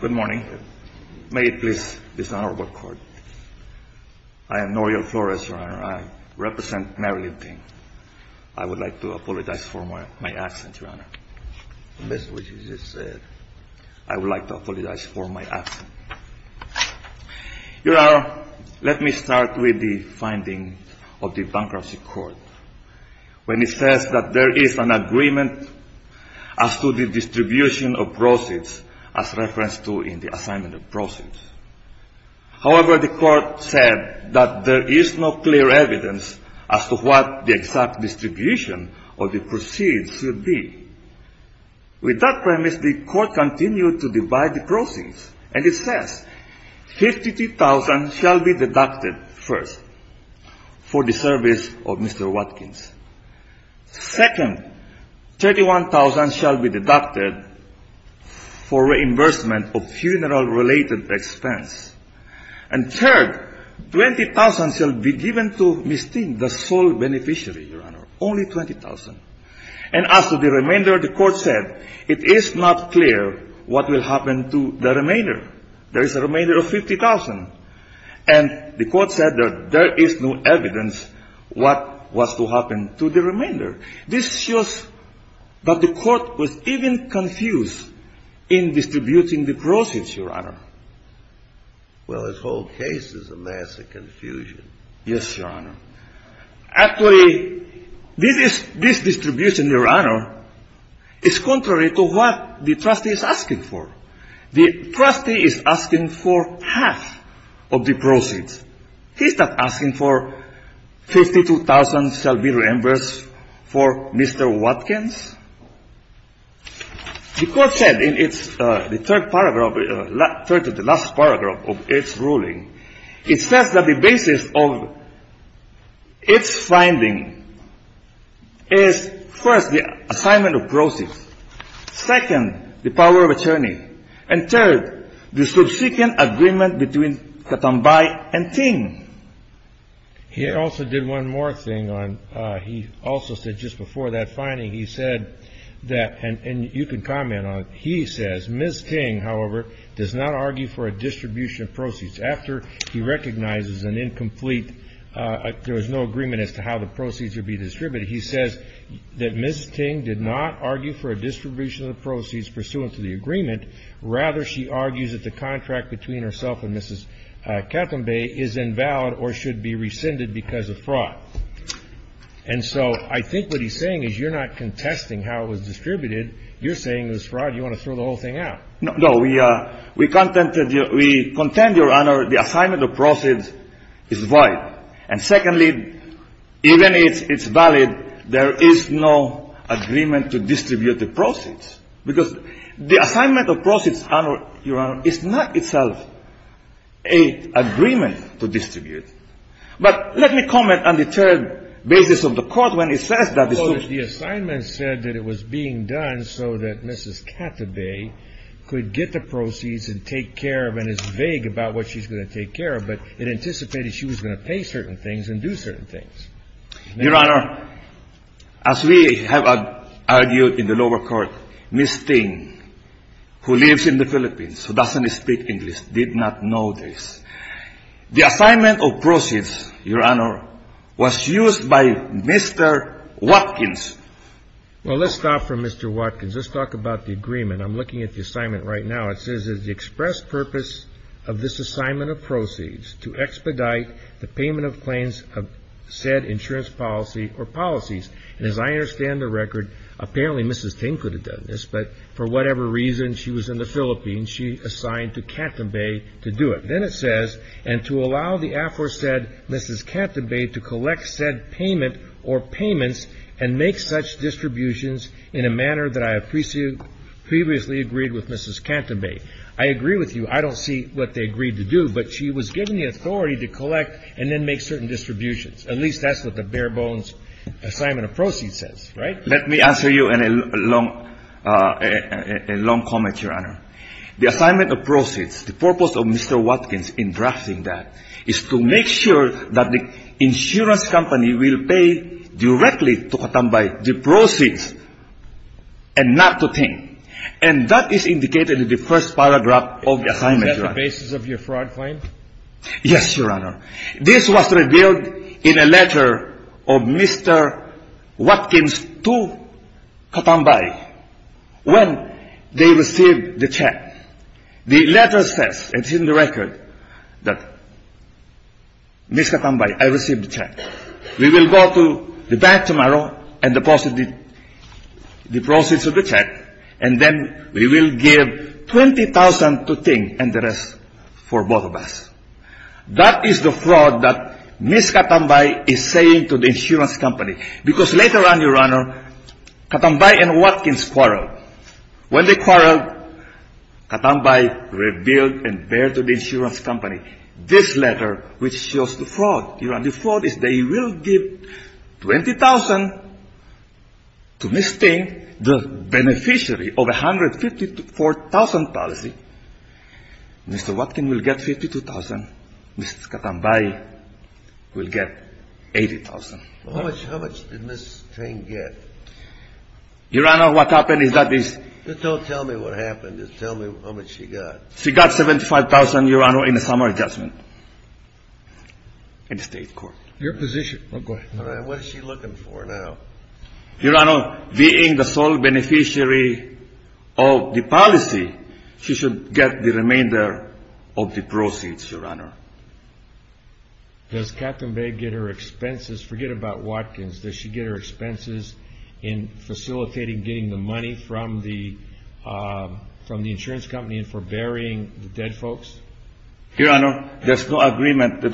Good morning. May it please this honorable court. I am Nouriel Flores, Your Honor. I represent Maryland. I would like to apologize for my accent, Your Honor. This is what you just said. I would like to apologize for my accent. Your Honor, let me start with the finding of the bankruptcy court, when it says that there is an agreement as to the distribution of proceeds as referenced to in the assignment of proceeds. However, the court said that there is no clear evidence as to what the exact distribution of the proceeds should be. With that premise, the court continued to divide the proceeds, and it says 53,000 shall be deducted first for the service of Mr. Watkins. Second, 31,000 shall be deducted for reimbursement of funeral-related expense. And third, 20,000 shall be given to Mystique, the sole beneficiary, Your Honor, only 20,000. And as to the remainder, the court said it is not clear what will happen to the remainder. There is a remainder of 50,000. And the court said that there is no evidence what was to happen to the remainder. This shows that the court was even confused in distributing the proceeds, Your Honor. Well, this whole case is a mass of confusion. Yes, Your Honor. Actually, this distribution, Your Honor, is contrary to what the trustee is asking for. The trustee is asking for half of the proceeds. He's not asking for 52,000 shall be reimbursed for Mr. Watkins. The court said in its third paragraph of its ruling, it says that the basis of its finding is, first, the assignment of proceeds, second, the power of attorney, and third, the subsequent agreement between Katambay and Ting. He also did one more thing on he also said just before that finding, he said that, and you can comment on it, he says, Ms. Ting, however, does not argue for a distribution of proceeds. After he recognizes an incomplete, there was no agreement as to how the proceeds would be distributed, he says that Ms. Ting did not argue for a distribution of the proceeds pursuant to the agreement. Rather, she argues that the contract between herself and Mrs. Katambay is invalid or should be rescinded because of fraud. And so I think what he's saying is you're not contesting how it was distributed. You're saying it was fraud. You want to throw the whole thing out. No. We contend, Your Honor, the assignment of proceeds is void. And secondly, even if it's valid, there is no agreement to distribute the proceeds, because the assignment of proceeds, Your Honor, is not itself an agreement to distribute. But let me comment on the third basis of the Court when it says that the assignment said that it was being done so that Mrs. Katambay could get the proceeds and take care of and is vague about what she's going to take care of, but it anticipated she was going to pay certain things and do certain things. Your Honor, as we have argued in the lower court, Ms. Ting, who lives in the Philippines, who doesn't speak English, did not know this. The assignment of proceeds, Your Honor, was used by Mr. Watkins. Well, let's stop for Mr. Watkins. Let's talk about the agreement. I'm looking at the assignment right now. It says the express purpose of this assignment of proceeds to expedite the payment of claims of said insurance policy or policies. And as I understand the record, apparently Mrs. Ting could have done this, but for her to be assigned to Katambay to do it. Then it says, and to allow the aforesaid Mrs. Katambay to collect said payment or payments and make such distributions in a manner that I have previously agreed with Mrs. Katambay. I agree with you. I don't see what they agreed to do, but she was given the authority to collect and then make certain distributions. At least that's what the bare bones assignment of proceeds says, right? Let me answer you in a long comment, Your Honor. The assignment of proceeds, the purpose of Mr. Watkins in drafting that is to make sure that the insurance company will pay directly to Katambay the proceeds and not to Ting. And that is indicated in the first paragraph of the assignment, Your Honor. Is that the basis of your fraud claim? Yes, Your Honor. This was revealed in a letter of Mr. Watkins to Katambay. When they received the check, the letter says, it's in the record, that, Mrs. Katambay, I received the check. We will go to the bank tomorrow and deposit the proceeds of the check, and then we will give 20,000 to Ting and the rest for both of us. That is the fraud that Mrs. Katambay is saying to the insurance company. Because later on, Your Honor, Katambay and Watkins quarreled. When they quarreled, Katambay revealed and bared to the insurance company this letter which shows the fraud. Your Honor, the fraud is they will give 20,000 to Miss Ting, the beneficiary of 154,000 policy. Mr. Watkins will get 52,000. Mrs. Katambay will get 80,000. How much did Miss Ting get? Your Honor, what happened is that is... Just don't tell me what happened. Just tell me how much she got. She got 75,000, Your Honor, in the summer adjustment in the state court. Your position. Go ahead. All right. What is she looking for now? Your Honor, being the sole beneficiary of the policy, she should get the remainder of the proceeds, Your Honor. Does Katambay get her expenses? Forget about Watkins. Does she get her expenses in facilitating getting the money from the insurance company for burying the dead folks? Your Honor, there's no agreement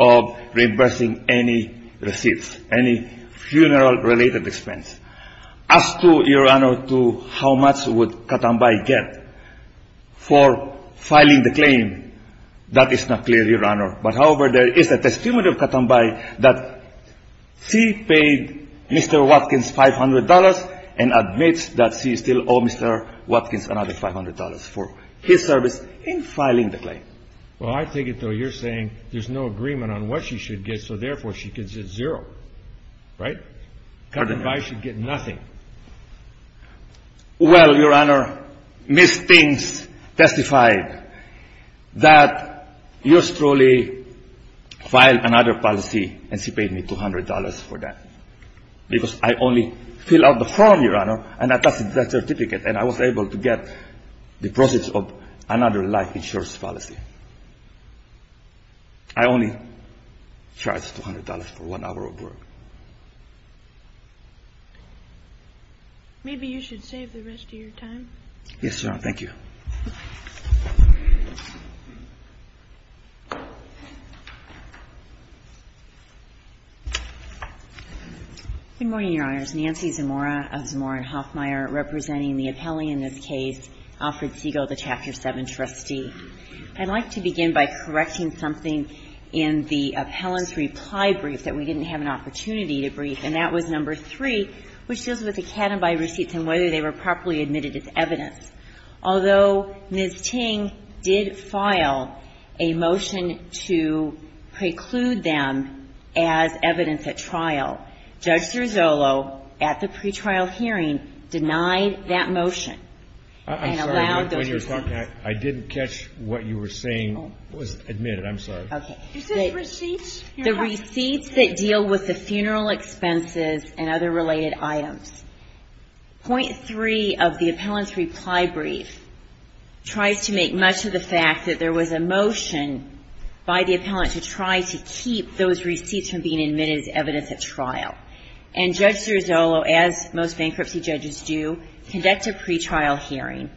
of reimbursing any receipts, any funeral-related expense. As to, Your Honor, to how much would Katambay get for filing the claim, that is not clear, Your Honor. But, however, there is a testimony of Katambay that she paid Mr. Watkins $500 and admits that she still owes Mr. Watkins another $500 for his service in filing the claim. Well, I take it, though, you're saying there's no agreement on what she should get, so, therefore, she gets a zero, right? Katambay should get nothing. Well, Your Honor, Ms. Stinks testified that yours truly filed another policy and she paid me $200 for that because I only filled out the form, Your Honor, and attached that certificate, and I was able to get the proceeds of another life insurance policy. I only charged $200 for one hour of work. Maybe you should save the rest of your time. Yes, Your Honor. Thank you. Good morning, Your Honors. Nancy Zamora of Zamora & Hoffmeyer representing the appellee in this case, Alfred Segal, the Chapter 7 trustee. I'd like to begin by correcting something in the appellant's reply brief that we didn't have an opportunity to brief, and that was number three, which deals with the Katambay receipts and whether they were properly admitted as evidence. Although Ms. Ting did file a motion to preclude them as evidence at trial, Judge Cirozzolo, at the pretrial hearing, denied that motion and allowed those receipts. I'm sorry. When you were talking, I didn't catch what you were saying was admitted. I'm sorry. Okay. The receipts that deal with the funeral expenses and other related items. Point three of the appellant's reply brief tries to make much of the fact that there was a motion by the appellant to try to keep those receipts from being admitted as evidence at trial. And Judge Cirozzolo, as most bankruptcy judges do, conduct a pretrial hearing,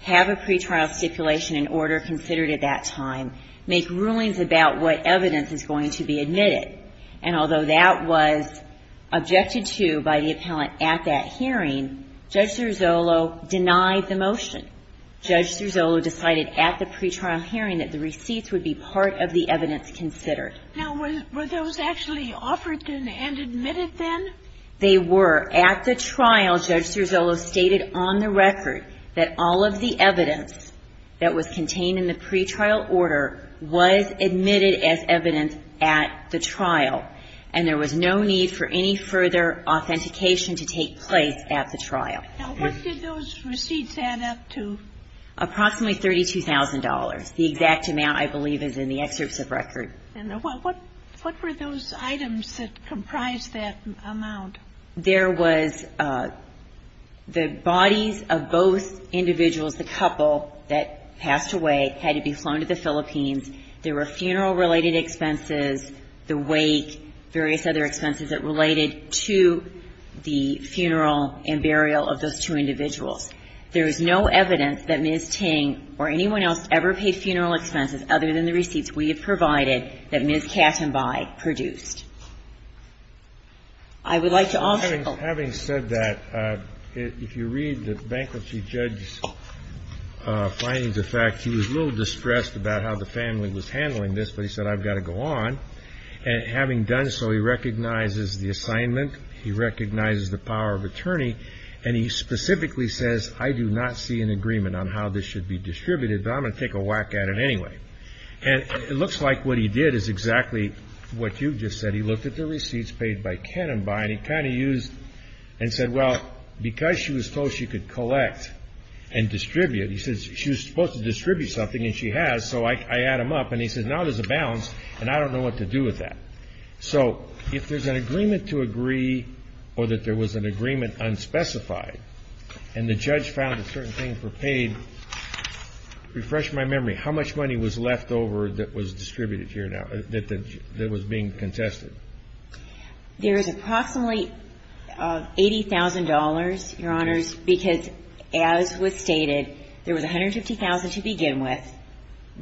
have a pre-trial hearing. And although that was objected to by the appellant at that hearing, Judge Cirozzolo denied the motion. Judge Cirozzolo decided at the pre-trial hearing that the receipts would be part of the evidence considered. Now, were those actually offered and admitted then? They were. At the trial, Judge Cirozzolo stated on the record that all of the evidence that was admitted as evidence at the trial, and there was no need for any further authentication to take place at the trial. Now, what did those receipts add up to? Approximately $32,000. The exact amount, I believe, is in the excerpts of record. And what were those items that comprised that amount? There was the bodies of both individuals, the couple that passed away, had to be flown to the Philippines. There were funeral-related expenses, the wake, various other expenses that related to the funeral and burial of those two individuals. There is no evidence that Ms. Ting or anyone else ever paid funeral expenses other than the receipts we have provided that Ms. Kattenbaugh produced. I would like to offer a quote. Having said that, if you read the bankruptcy judge's findings, in fact, he was a little distressed about how the family was handling this, but he said, I've got to go on. And having done so, he recognizes the assignment, he recognizes the power of attorney, and he specifically says, I do not see an agreement on how this should be distributed, but I'm going to take a whack at it anyway. And it looks like what he did is exactly what you just said. He looked at the receipts paid by Kattenbaugh, and he kind of used and said, well, because she was told she could collect and distribute, he said she was supposed to and she has, so I add them up, and he said, now there's a balance, and I don't know what to do with that. So if there's an agreement to agree or that there was an agreement unspecified, and the judge found a certain thing for paid, refresh my memory, how much money was left over that was distributed here now, that was being contested? There is approximately $80,000, Your Honors, because as was stated, there was $150,000 to begin with.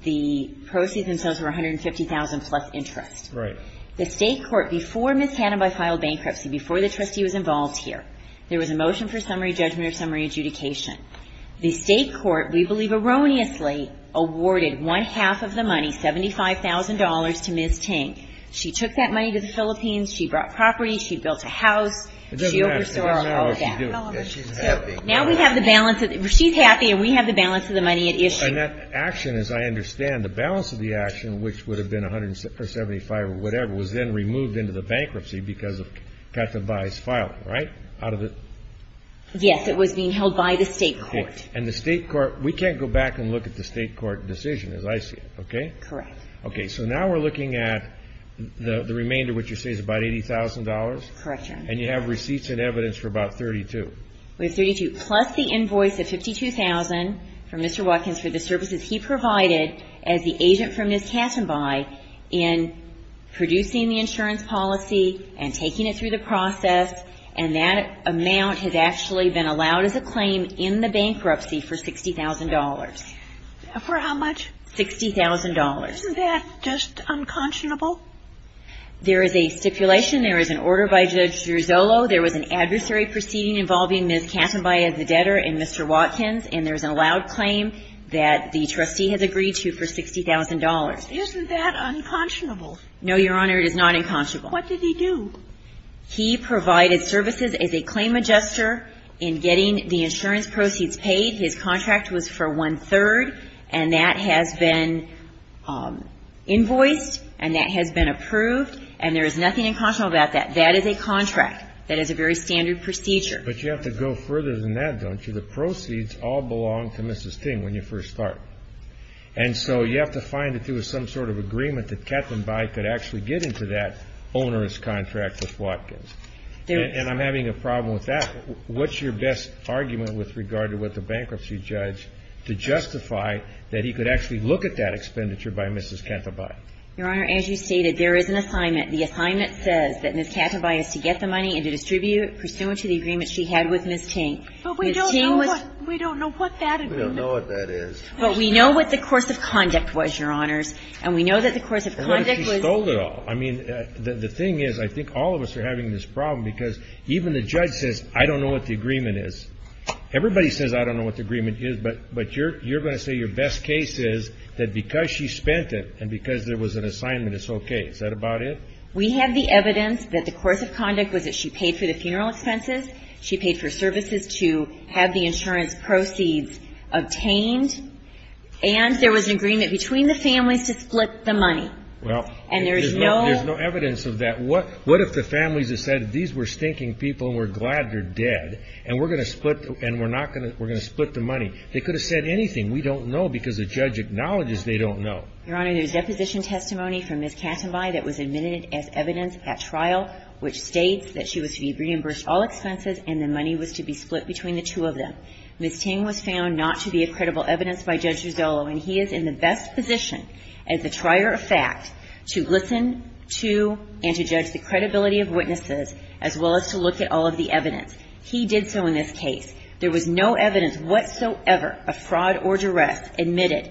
The proceeds themselves were $150,000 plus interest. Right. The state court, before Ms. Kattenbaugh filed bankruptcy, before the trustee was involved here, there was a motion for summary judgment or summary adjudication. The state court, we believe erroneously, awarded one-half of the money, $75,000, to Ms. Tink. She took that money to the Philippines. She brought property. She built a house. It doesn't matter. It doesn't matter what she did. Now we have the balance. She's happy and we have the balance of the money at issue. And that action, as I understand, the balance of the action, which would have been $175,000 or whatever, was then removed into the bankruptcy because of Kattenbaugh's filing, right? Yes, it was being held by the state court. And the state court, we can't go back and look at the state court decision as I see it, okay? Correct. Okay, so now we're looking at the remainder, which you say is about $80,000. Correct, Your Honor. And you have receipts and evidence for about $32,000. We have $32,000. And you have a receipt, plus the invoice of $52,000 from Mr. Watkins for the services he provided as the agent for Ms. Kattenbaugh in producing the insurance policy and taking it through the process, and that amount has actually been allowed as a claim in the bankruptcy for $60,000. For how much? $60,000. Isn't that just unconscionable? There is a stipulation. There is an order by Judge Giorzolo. There was an adversary proceeding involving Ms. Kattenbaugh as the debtor and Mr. Watkins, and there's an allowed claim that the trustee has agreed to for $60,000. Isn't that unconscionable? No, Your Honor. It is not unconscionable. What did he do? He provided services as a claim adjuster in getting the insurance proceeds paid. His contract was for one-third, and that has been invoiced and that has been approved, and there is nothing unconscionable about that. That is a contract. That is a very standard procedure. But you have to go further than that, don't you? The proceeds all belong to Mrs. Ting when you first start. And so you have to find that there was some sort of agreement that Kattenbaugh could actually get into that onerous contract with Watkins. And I'm having a problem with that. What's your best argument with regard to what the bankruptcy judge, to justify that he could actually look at that expenditure by Mrs. Kattenbaugh? Your Honor, as you stated, there is an assignment. The assignment says that Mrs. Kattenbaugh is to get the money and to distribute it pursuant to the agreement she had with Mrs. Ting. But we don't know what that agreement is. We don't know what that is. But we know what the course of conduct was, Your Honors. And we know that the course of conduct was the one that she sold it all. I mean, the thing is, I think all of us are having this problem because even the judge says I don't know what the agreement is. Everybody says I don't know what the agreement is, but you're going to say your best case is that because she spent it and because there was an assignment, it's okay. Is that about it? We have the evidence that the course of conduct was that she paid for the funeral expenses, she paid for services to have the insurance proceeds obtained, and there was an agreement between the families to split the money. Well, there's no evidence of that. What if the families decided these were stinking people and we're glad they're dead and we're going to split the money? They could have said anything. We don't know because the judge acknowledges they don't know. Your Honor, there's deposition testimony from Ms. Kattenbeil that was admitted as evidence at trial which states that she was to be reimbursed all expenses and the money was to be split between the two of them. Ms. Ting was found not to be a credible evidence by Judge Rizzolo, and he is in the best position as the trier of fact to listen to and to judge the credibility of witnesses as well as to look at all of the evidence. He did so in this case. There was no evidence whatsoever of fraud or duress admitted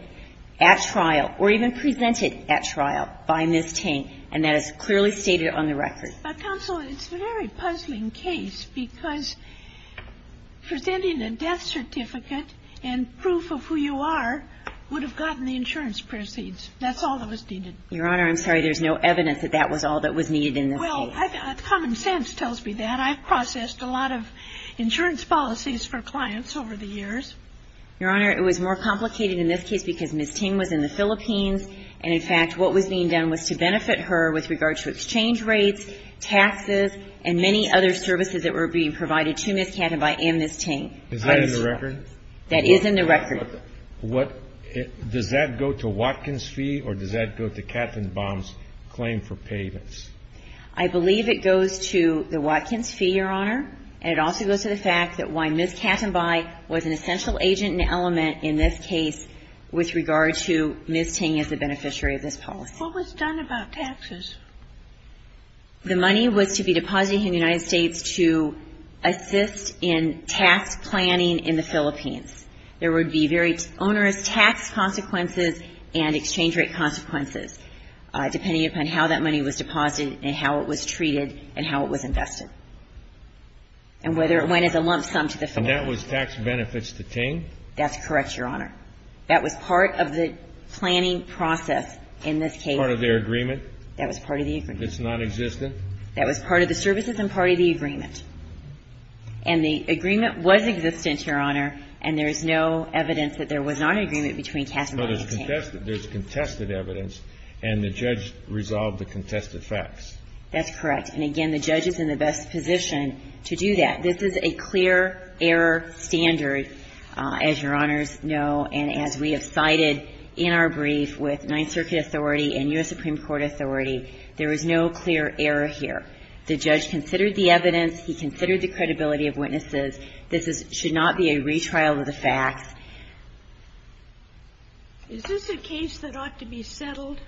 at trial or even presented at trial by Ms. Ting, and that is clearly stated on the record. But, counsel, it's a very puzzling case because presenting a death certificate and proof of who you are would have gotten the insurance proceeds. That's all that was needed. Your Honor, I'm sorry. There's no evidence that that was all that was needed in this case. Well, common sense tells me that. I've processed a lot of insurance policies for clients over the years. Your Honor, it was more complicated in this case because Ms. Ting was in the Philippines, and in fact what was being done was to benefit her with regard to exchange rates, taxes, and many other services that were being provided to Ms. Kattenbeil and Ms. Ting. Is that in the record? That is in the record. Does that go to Watkins' fee or does that go to Kattenbaum's claim for payments? I believe it goes to the Watkins' fee, Your Honor, and it also goes to the fact that why Ms. Kattenbeil was an essential agent and element in this case with regard to Ms. Ting as the beneficiary of this policy. What was done about taxes? The money was to be deposited in the United States to assist in tax planning in the Philippines. There would be very onerous tax consequences and exchange rate consequences depending upon how that money was deposited and how it was treated and how it was invested and whether it went as a lump sum to the Philippines. And that was tax benefits to Ting? That's correct, Your Honor. That was part of the planning process in this case. Part of their agreement? That was part of the agreement. It's nonexistent? That was part of the services and part of the agreement. And the agreement was existent, Your Honor, and there is no evidence that there was not an agreement between Kattenbaum and Ting. Well, there's contested evidence, and the judge resolved the contested facts. That's correct. And, again, the judge is in the best position to do that. This is a clear error standard, as Your Honors know, and as we have cited in our brief with Ninth Circuit authority and U.S. Supreme Court authority, there is no clear error here. The judge considered the evidence. He considered the credibility of witnesses. This should not be a retrial of the facts. Is this a case that ought to be settled?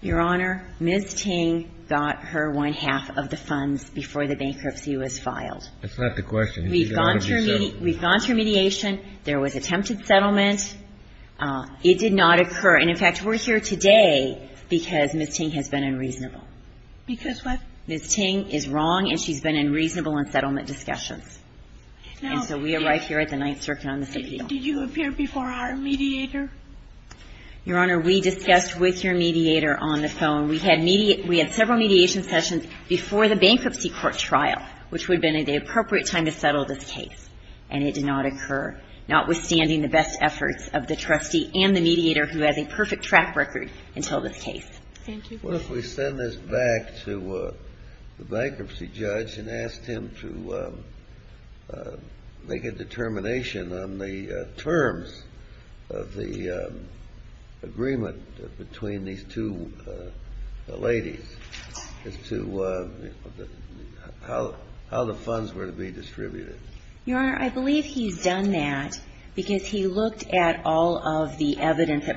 Your Honor, Ms. Ting got her one-half of the funds before the bankruptcy was filed. That's not the question. We've gone through mediation. There was attempted settlement. It did not occur. And, in fact, we're here today because Ms. Ting has been unreasonable. Because what? Ms. Ting is wrong, and she's been unreasonable in settlement discussions. And so we arrived here at the Ninth Circuit on this appeal. Did you appear before our mediator? Your Honor, we discussed with your mediator on the phone. We had several mediation sessions before the bankruptcy court trial, which would have been the appropriate time to settle this case, and it did not occur, notwithstanding the best efforts of the trustee and the mediator who has a perfect track record until this case. Thank you. What if we send this back to the bankruptcy judge and ask him to make a determination on the terms of the agreement between these two ladies as to how the funds were to be distributed? Your Honor, I believe he's done that because he looked at all of the evidence that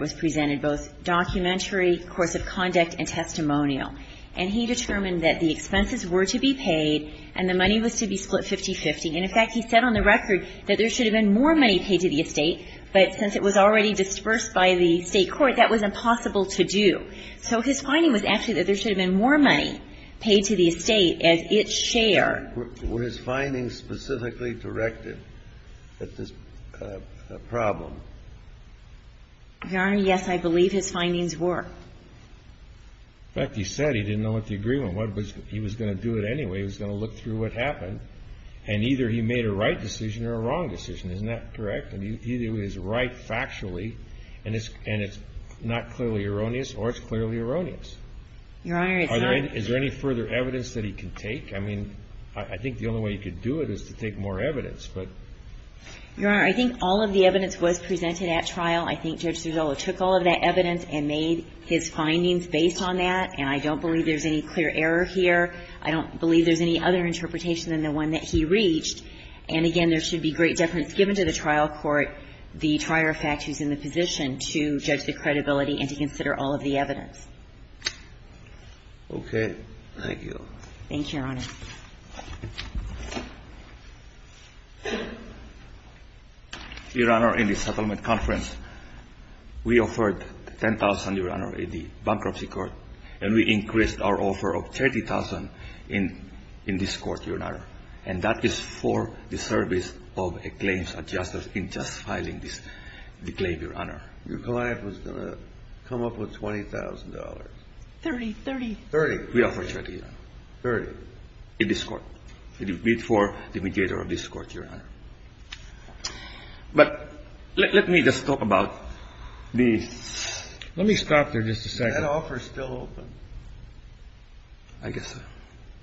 And he determined that the expenses were to be paid and the money was to be split 50-50. And, in fact, he said on the record that there should have been more money paid to the estate, but since it was already dispersed by the State court, that was impossible to do. So his finding was actually that there should have been more money paid to the estate as its share. Were his findings specifically directed at this problem? Your Honor, yes, I believe his findings were. In fact, he said he didn't know what the agreement was. He was going to do it anyway. He was going to look through what happened, and either he made a right decision or a wrong decision. Isn't that correct? Either he was right factually, and it's not clearly erroneous, or it's clearly erroneous. Your Honor, it's not. Is there any further evidence that he can take? I mean, I think the only way he could do it is to take more evidence, but Your Honor, I think all of the evidence was presented at trial. I think Judge Serzolo took all of that evidence and made his findings based on that, and I don't believe there's any clear error here. I don't believe there's any other interpretation than the one that he reached. And again, there should be great deference given to the trial court, the trier of fact who's in the position to judge the credibility and to consider all of the evidence. Okay. Thank you. Thank you, Your Honor. Your Honor, in the settlement conference, we offered 10,000, Your Honor, in the bankruptcy court, and we increased our offer of 30,000 in this court, Your Honor. And that is for the service of a claims adjuster in just filing this claim, Your Honor. Your client was going to come up with $20,000. 30. 30. 30. We offered 30, Your Honor. 30. 30. And that is for the service of a claims adjuster in this court. It is bid for the mediator of this court, Your Honor. But let me just talk about the... Let me stop there just a second. Is that offer still open? I guess so.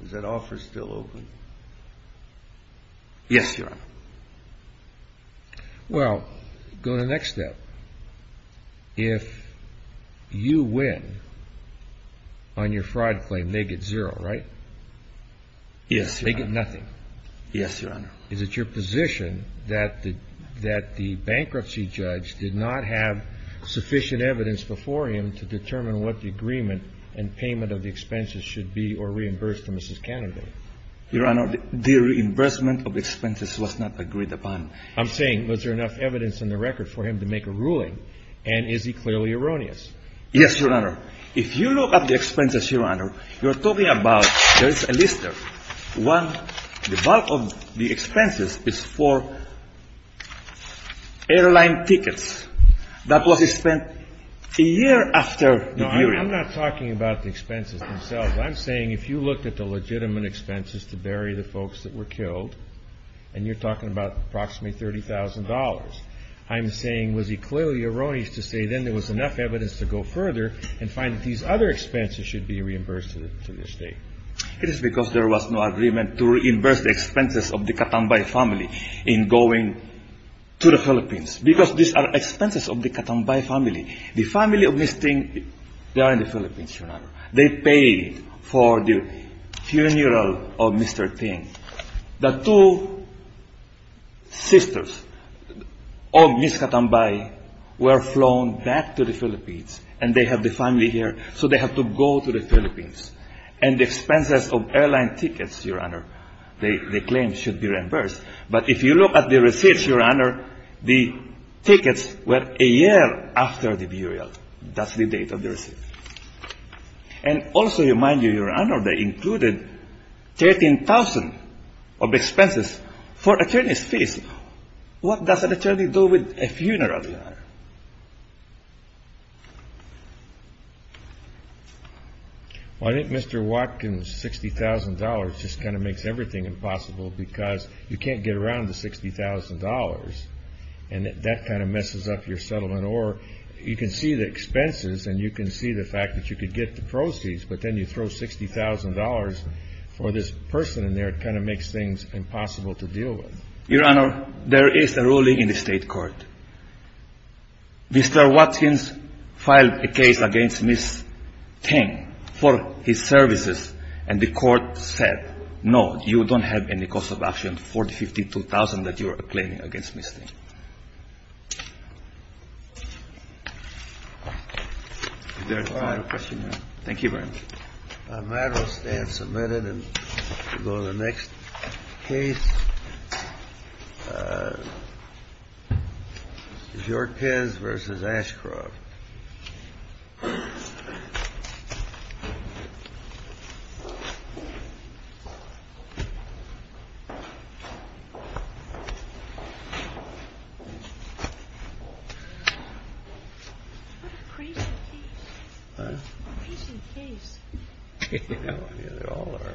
Is that offer still open? Yes, Your Honor. Well, go to the next step. If you win on your fraud claim, they get zero, right? Yes, Your Honor. They get nothing. Yes, Your Honor. Is it your position that the bankruptcy judge did not have sufficient evidence before him to determine what the agreement and payment of the expenses should be or reimburse to Mrs. Cannondale? Your Honor, the reimbursement of expenses was not agreed upon. I'm saying was there enough evidence in the record for him to make a ruling, and is he clearly erroneous? Yes, Your Honor. If you look at the expenses, Your Honor, you're talking about there is a list of one, the bulk of the expenses is for airline tickets. That was spent a year after the agreement. No, I'm not talking about the expenses themselves. I'm saying if you looked at the legitimate expenses to bury the folks that were killed, and you're talking about approximately $30,000, I'm saying was he clearly erroneous to say then there was enough evidence to go further and find that these other expenses should be reimbursed to the state? It is because there was no agreement to reimburse the expenses of the Katambay family in going to the Philippines because these are expenses of the Katambay family. The family of this thing, they are in the Philippines, Your Honor. They paid for the funeral of Mr. Ting. The two sisters of Ms. Katambay were flown back to the Philippines, and they have the family here, so they have to go to the Philippines. And the expenses of airline tickets, Your Honor, they claim should be reimbursed. But if you look at the receipts, Your Honor, the tickets were a year after the burial. That's the date of the receipt. And also, Your Honor, they included 13,000 of expenses for attorney's fees. What does an attorney do with a funeral, Your Honor? Well, I think Mr. Watkins, $60,000 just kind of makes everything impossible because you can't get around the $60,000, and that kind of messes up your settlement. Or you can see the expenses, and you can see the fact that you could get the proceeds, but then you throw $60,000 for this person in there. It kind of makes things impossible to deal with. Your Honor, there is a ruling in the state court. Mr. Watkins filed a case against Ms. Ting for his services, and the court said, No, you don't have any cost of action for the $52,000 that you are claiming against Ms. Ting. Is there another question, Your Honor? Thank you, Your Honor. The matter will stand submitted, and we'll go to the next case. Jorquez v. Ashcroft. What a crazy case. You know, they all are.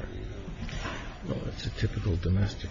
Well, it's a typical domestic relationship.